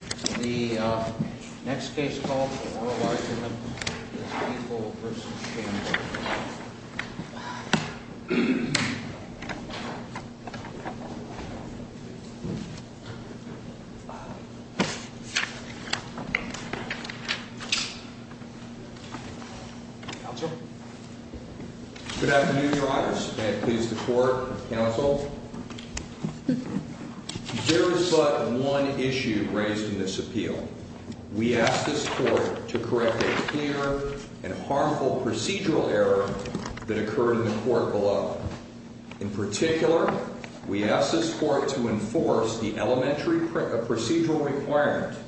The next case called for oral argument is People v. Shamhart. Counsel? Good afternoon, Your Honors. May it please the Court, Counsel. There is but one issue raised in this appeal. We ask this Court to correct a clear and harmful procedural error that occurred in the Court below. In particular, we ask this Court to enforce the elementary procedural requirement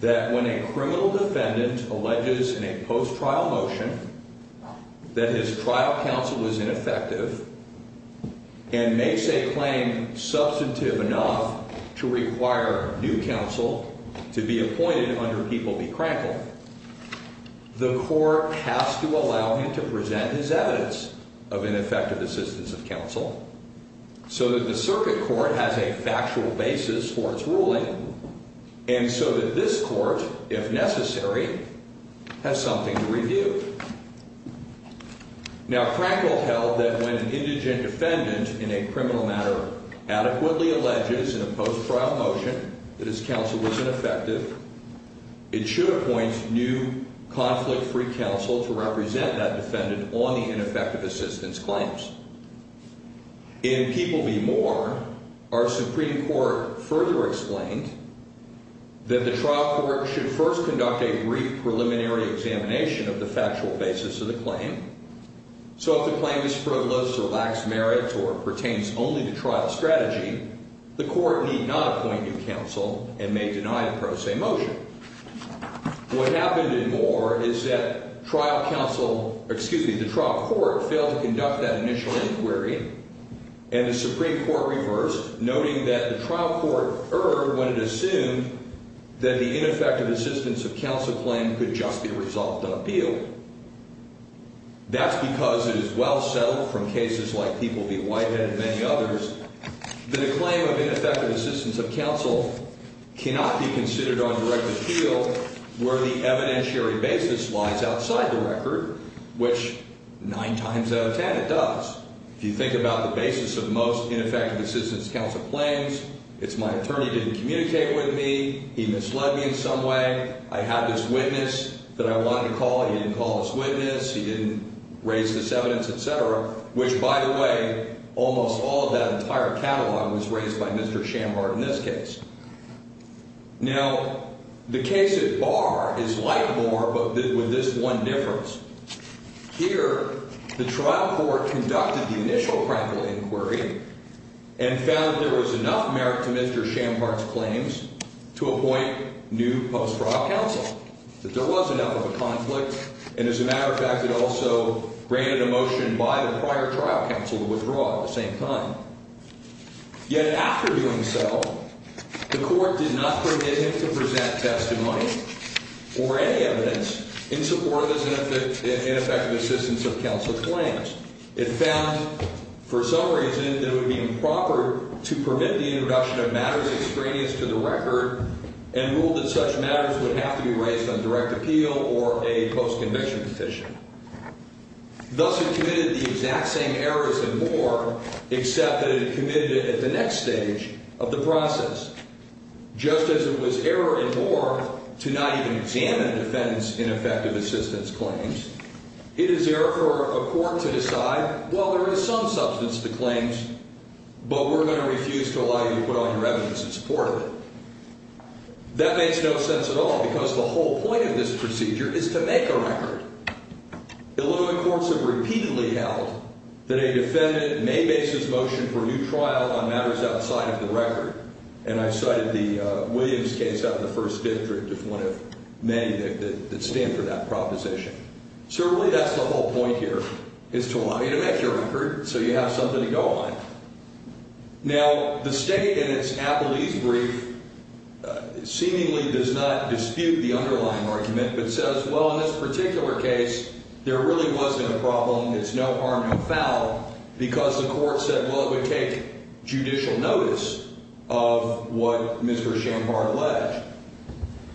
that when a criminal defendant alleges in a post-trial motion that his trial counsel was ineffective and makes a claim substantive enough to require new counsel to be appointed under People v. Crankle, the Court has to allow him to present his evidence of ineffective assistance of counsel so that the Circuit Court has a factual basis for its ruling and so that this Court, if necessary, has something to review. Now, Crankle held that when an indigent defendant in a criminal matter adequately alleges in a post-trial motion that his counsel was ineffective, it should appoint new conflict-free counsel to represent that defendant on the ineffective assistance claims. In People v. Moore, our Supreme Court further explained that the trial court should first conduct a brief preliminary examination of the factual basis of the claim. So if the claim is frivolous or lacks merit or pertains only to trial strategy, the Court need not appoint new counsel and may deny a pro se motion. What happened in Moore is that trial counsel, excuse me, the trial court failed to conduct that initial inquiry and the Supreme Court reversed, noting that the trial court erred when it assumed that the ineffective assistance of counsel claim could just be resolved on appeal. That's because it is well settled from cases like People v. Whitehead and many others that a claim of ineffective assistance of counsel cannot be considered on direct appeal where the evidentiary basis lies outside the record, which nine times out of ten it does. If you think about the basis of most ineffective assistance counsel claims, it's my attorney didn't communicate with me, he misled me in some way, I had this witness that I wanted to call, he didn't call this witness, he didn't raise this evidence, et cetera, which, by the way, almost all of that entire catalog was raised by Mr. Schambart in this case. Now, the case at bar is like Moore but with this one difference. Here, the trial court conducted the initial practical inquiry and found that there was enough merit to Mr. Schambart's claims to appoint new post-trial counsel, that there was enough of a conflict, and as a matter of fact, it also granted a motion by the prior trial counsel to withdraw at the same time. Yet after doing so, the court did not permit him to present testimony or any evidence in support of his ineffective assistance of counsel claims. It found, for some reason, that it would be improper to permit the introduction of matters extraneous to the record and ruled that such matters would have to be raised on direct appeal or a post-conviction petition. Thus, it committed the exact same errors in Moore, except that it committed it at the next stage of the process. Just as it was error in Moore to not even examine defendant's ineffective assistance claims, it is error for a court to decide, well, there is some substance to the claims, but we're going to refuse to allow you to put on your evidence in support of it. That makes no sense at all, because the whole point of this procedure is to make a record. Illinois courts have repeatedly held that a defendant may base his motion for a new trial on matters outside of the record, and I cited the Williams case out in the First District as one of many that stand for that proposition. Certainly, that's the whole point here, is to allow you to make your record so you have something to go on. Now, the state in its Appellee's Brief seemingly does not dispute the underlying argument, but says, well, in this particular case, there really wasn't a problem, it's no harm, no foul, because the court said, well, it would take judicial notice of what Mr. Schoenhardt alleged.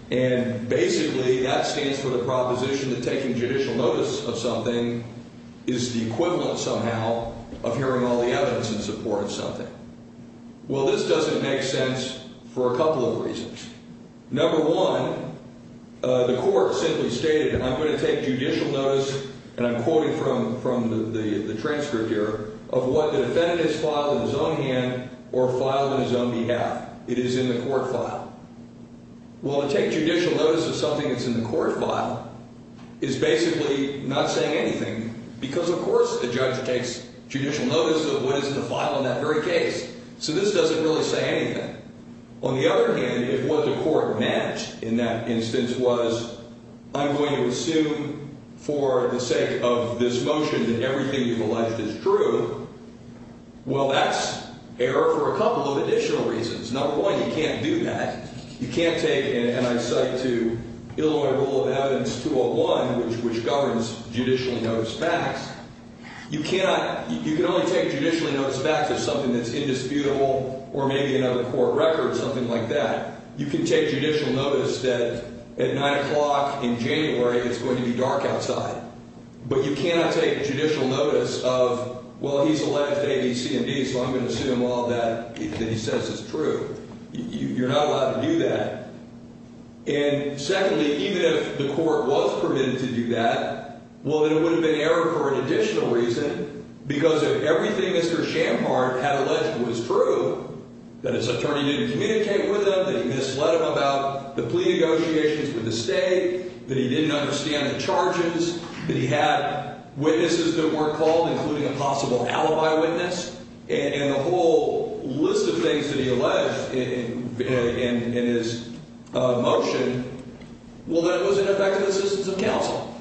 And basically, that stands for the proposition that taking judicial notice of something is the equivalent somehow of hearing all the evidence in support of something. Well, this doesn't make sense for a couple of reasons. Number one, the court simply stated, I'm going to take judicial notice, and I'm quoting from the transcript here, of what the defendant has filed in his own hand or filed in his own behalf. It is in the court file. Well, to take judicial notice of something that's in the court file is basically not saying anything, because, of course, the judge takes judicial notice of what is in the file in that very case. So this doesn't really say anything. On the other hand, if what the court meant in that instance was, I'm going to assume for the sake of this motion that everything you've alleged is true, well, that's error for a couple of additional reasons. Number one, you can't do that. You can't take, and I cite to Illinois Rule of Evidence 201, which governs judicial notice facts, you can only take judicial notice facts of something that's indisputable or maybe another court record, something like that. You can take judicial notice that at 9 o'clock in January, it's going to be dark outside. But you cannot take judicial notice of, well, he's alleged A, B, C, and D, so I'm going to assume all that he says is true. You're not allowed to do that. And secondly, even if the court was permitted to do that, well, then it would have been error for an additional reason, because if everything Mr. Schampard had alleged was true, that his attorney didn't communicate with him, that he misled him about the plea negotiations with the state, that he didn't understand the charges, that he had witnesses that weren't called, including a possible alibi witness, and a whole list of things that he alleged in his motion, well, then it was in effect of assistance of counsel,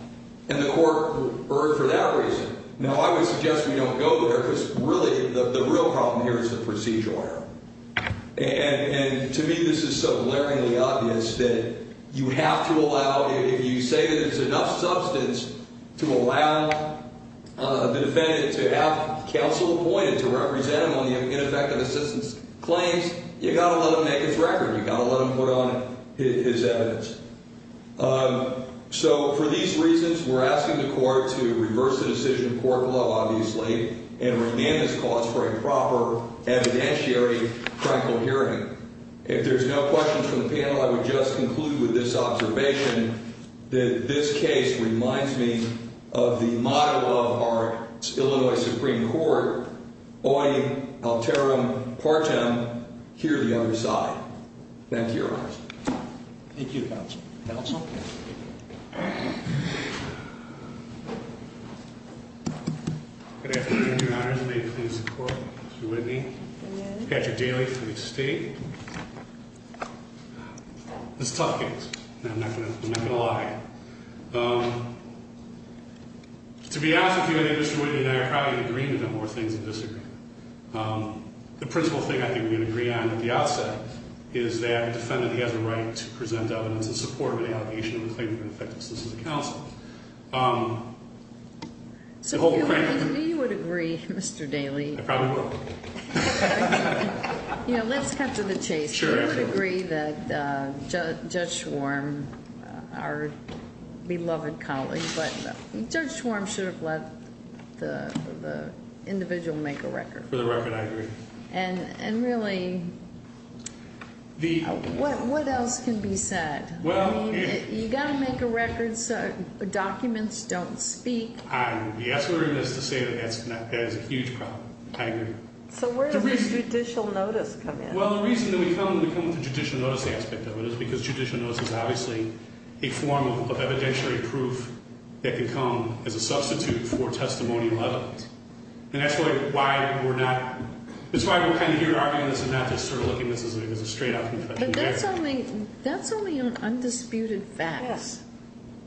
and the court erred for that reason. Now, I would suggest we don't go there, because really the real problem here is the procedural error. And to me this is so glaringly obvious that you have to allow, if you say that there's enough substance to allow the defendant to have counsel appointed to represent him on the ineffective assistance claims, you've got to let him make his record. You've got to let him put on his evidence. So for these reasons, we're asking the court to reverse the decision of court law, obviously, and remand this cause for a proper evidentiary triangle hearing. If there's no questions from the panel, I would just conclude with this observation, that this case reminds me of the model of our Illinois Supreme Court, oi alterum partem, hear the other side. Thank you, Your Honors. Thank you, Counsel. Counsel? Good afternoon, Your Honors. May it please the Court. Mr. Whitney. Good morning. This is a tough case. I'm not going to lie. To be honest with you, I think Mr. Whitney and I are probably going to agree on a number of things and disagree. The principal thing I think we can agree on at the outset is that the defendant has a right to present evidence in support of an allegation of a claim of ineffective assistance to counsel. So do you agree, Mr. Daley? I probably would. Let's cut to the chase. I would agree that Judge Schwarm, our beloved colleague, but Judge Schwarm should have let the individual make a record. For the record, I agree. And really, what else can be said? You've got to make a record so documents don't speak. I agree. That's what I was going to say. That is a huge problem. I agree. So where does the judicial notice come in? Well, the reason that we come with the judicial notice aspect of it is because judicial notice is obviously a form of evidentiary proof that can come as a substitute for testimonial evidence. And that's why we're kind of here arguing this and not just sort of looking at this as a straight-up confession of error. But that's only on undisputed facts.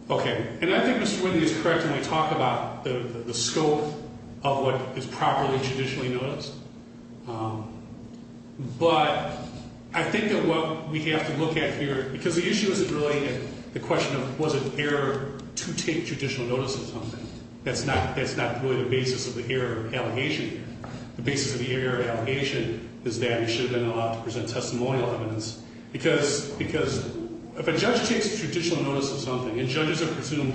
OK. And I think Mr. Whitney is correct when I talk about the scope of what is properly traditionally noticed. But I think that what we have to look at here, because the issue isn't really the question of was it an error to take judicial notice of something. That's not really the basis of the error allegation here. The basis of the error allegation is that it should have been allowed to present testimonial evidence. Because if a judge takes judicial notice of something and judges are presumed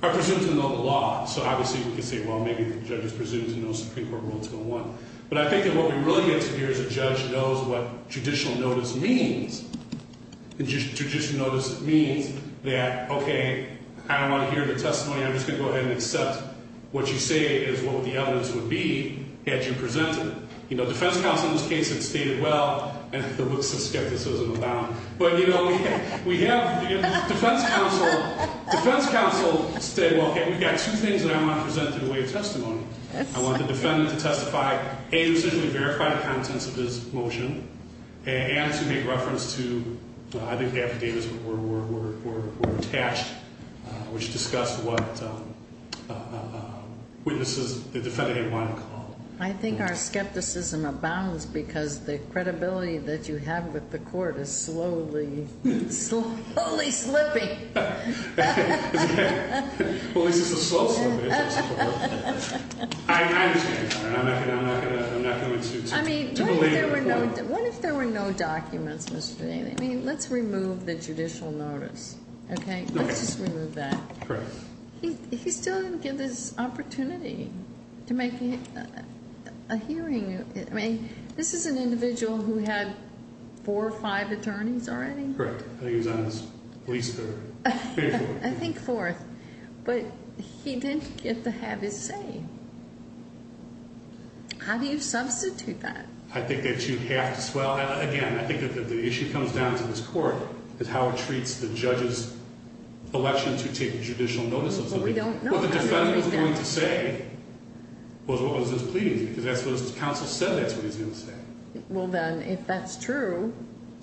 to know the law, so obviously we could say, well, maybe the judge was presumed to know Supreme Court Rule 201. But I think that what we really get to hear is a judge knows what judicial notice means. And judicial notice means that, OK, I don't want to hear the testimony. I'm just going to go ahead and accept what you say is what the evidence would be had you presented it. You know, defense counsel in this case had stated, well, and there was some skepticism about it. But you know, we have defense counsel say, well, OK, we've got two things that I want to present in the way of testimony. I want the defendant to testify, A, to certainly verify the contents of his motion, and to make reference to, I think, the affidavits were attached, which discussed what the defendant didn't want to call. I think our skepticism abounds because the credibility that you have with the court is slowly, slowly slipping. Well, at least it's a slow slip. I'm just going to be honest. I'm not going to insist. I mean, what if there were no documents, Mr. Daley? I mean, let's remove the judicial notice, OK? Let's just remove that. Correct. He still didn't get this opportunity to make a hearing. I mean, this is an individual who had four or five attorneys already? Correct. I think he was on his police career. I think fourth. But he didn't get to have his say. How do you substitute that? I think that you have to swell. Again, I think that the issue comes down to this court, is how it treats the judge's election to take judicial notice of something. Well, we don't know. What the defendant was going to say was what was his pleading, because that's what his counsel said that's what he was going to say. Well, then, if that's true,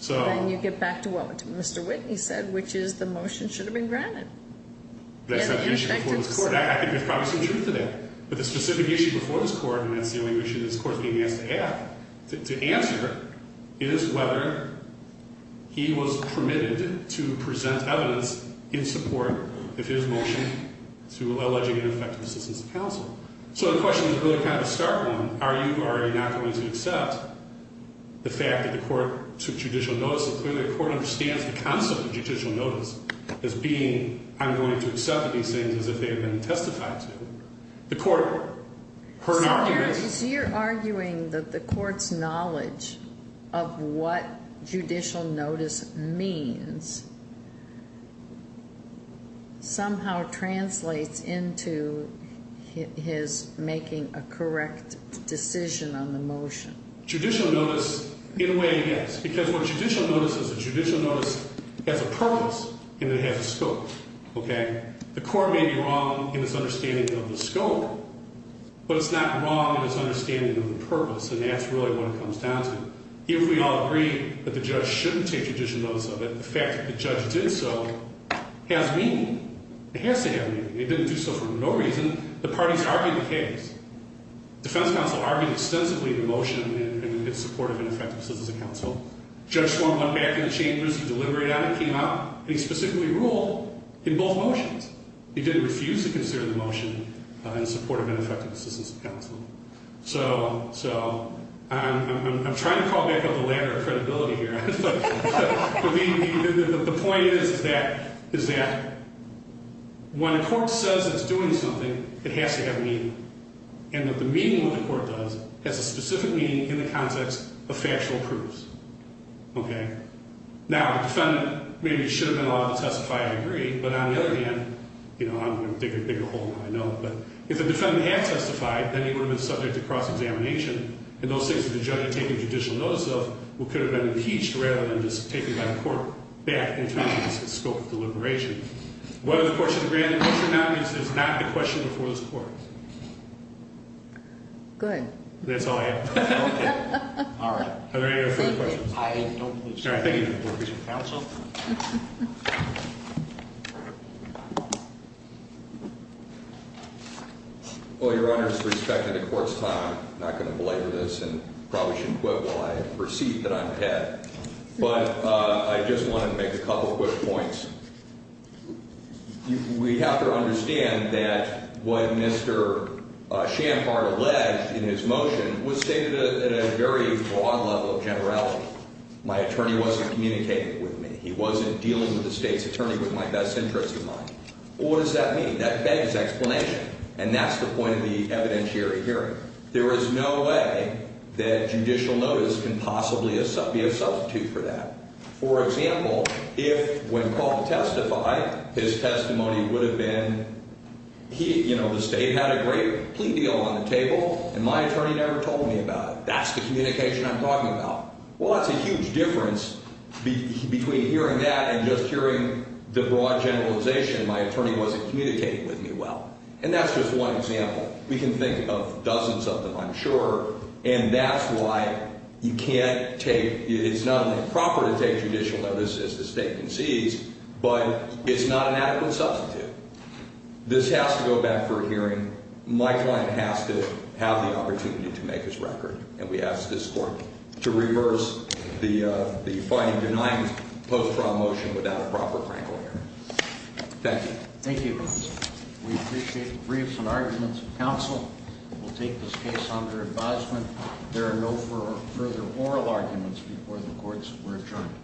then you get back to what? What Mr. Whitney said, which is the motion should have been granted. That's not the issue before this court. I think there's probably some truth to that. But the specific issue before this court, and that's the only issue this court's being asked to have, to answer, is whether he was permitted to present evidence in support of his motion to alleging ineffective assistance of counsel. So the question is really kind of a stark one. Are you already not going to accept the fact that the court took judicial notice? So clearly, the court understands the concept of judicial notice as being, I'm going to accept these things as if they had been testified to. The court heard an argument. So you're arguing that the court's knowledge of what judicial notice means somehow translates into his making a correct decision on the motion. Judicial notice, in a way, yes. Because what judicial notice is, a judicial notice has a purpose, and it has a scope. The court may be wrong in its understanding of the scope, but it's not wrong in its understanding of the purpose. And that's really what it comes down to. Even if we all agree that the judge shouldn't take judicial notice of it, the fact that the judge did so has meaning. It has to have meaning. It didn't do so for no reason. The parties argued the case. Defense counsel argued extensively in the motion in support of ineffective assistance of counsel. Judge Swamp went back in the chambers and deliberated on it, came out, and he specifically ruled in both motions. He didn't refuse to consider the motion in support of ineffective assistance of counsel. So I'm trying to crawl back up the ladder of credibility here. But the point is that when a court says it's doing something, it has to have meaning. And that the meaning of what the court does has a specific meaning in the context of factual proofs. OK? Now, the defendant maybe should have been allowed to testify. I agree. But on the other hand, you know, I'm going to dig a bigger hole than I know. But if the defendant had testified, then he would have been subject to cross-examination. And those things that the judge had taken judicial notice of could have been impeached rather than just taken by the court back in terms of its scope of deliberation. Whether the court should grant it or not means there's not a question before this court. Good. That's all I have. OK. All right. Are there any other further questions? I don't believe so. I think you need to work with your counsel. Well, Your Honor, with respect to the court's time, I'm not going to belabor this and probably shouldn't quit while I have a receipt that I'm ahead. But I just wanted to make a couple quick points. We have to understand that what Mr. Schampart alleged in his motion was stated at a very broad level of generality. My attorney wasn't communicating with me. He wasn't dealing with the state's attorney with my best interest in mind. What does that mean? That begs explanation. And that's the point of the evidentiary hearing. There is no way that judicial notice can possibly be a substitute for that. For example, if when Paul testified, his testimony would have been, you know, the state had a great plea deal on the table, and my attorney never told me about it. That's the communication I'm talking about. Well, that's a huge difference between hearing that and just hearing the broad generalization. My attorney wasn't communicating with me well. And that's just one example. We can think of dozens of them, I'm sure. And that's why you can't take – it's not only proper to take judicial notice as the state concedes, but it's not an adequate substitute. This has to go back for a hearing. My client has to have the opportunity to make his record. And we ask this Court to reverse the finding denying post-trial motion without a proper crankle hearing. Thank you. Thank you, Your Honor. We appreciate the briefs and arguments of counsel. We'll take this case under advisement. There are no further oral arguments before the courts. We're adjourned.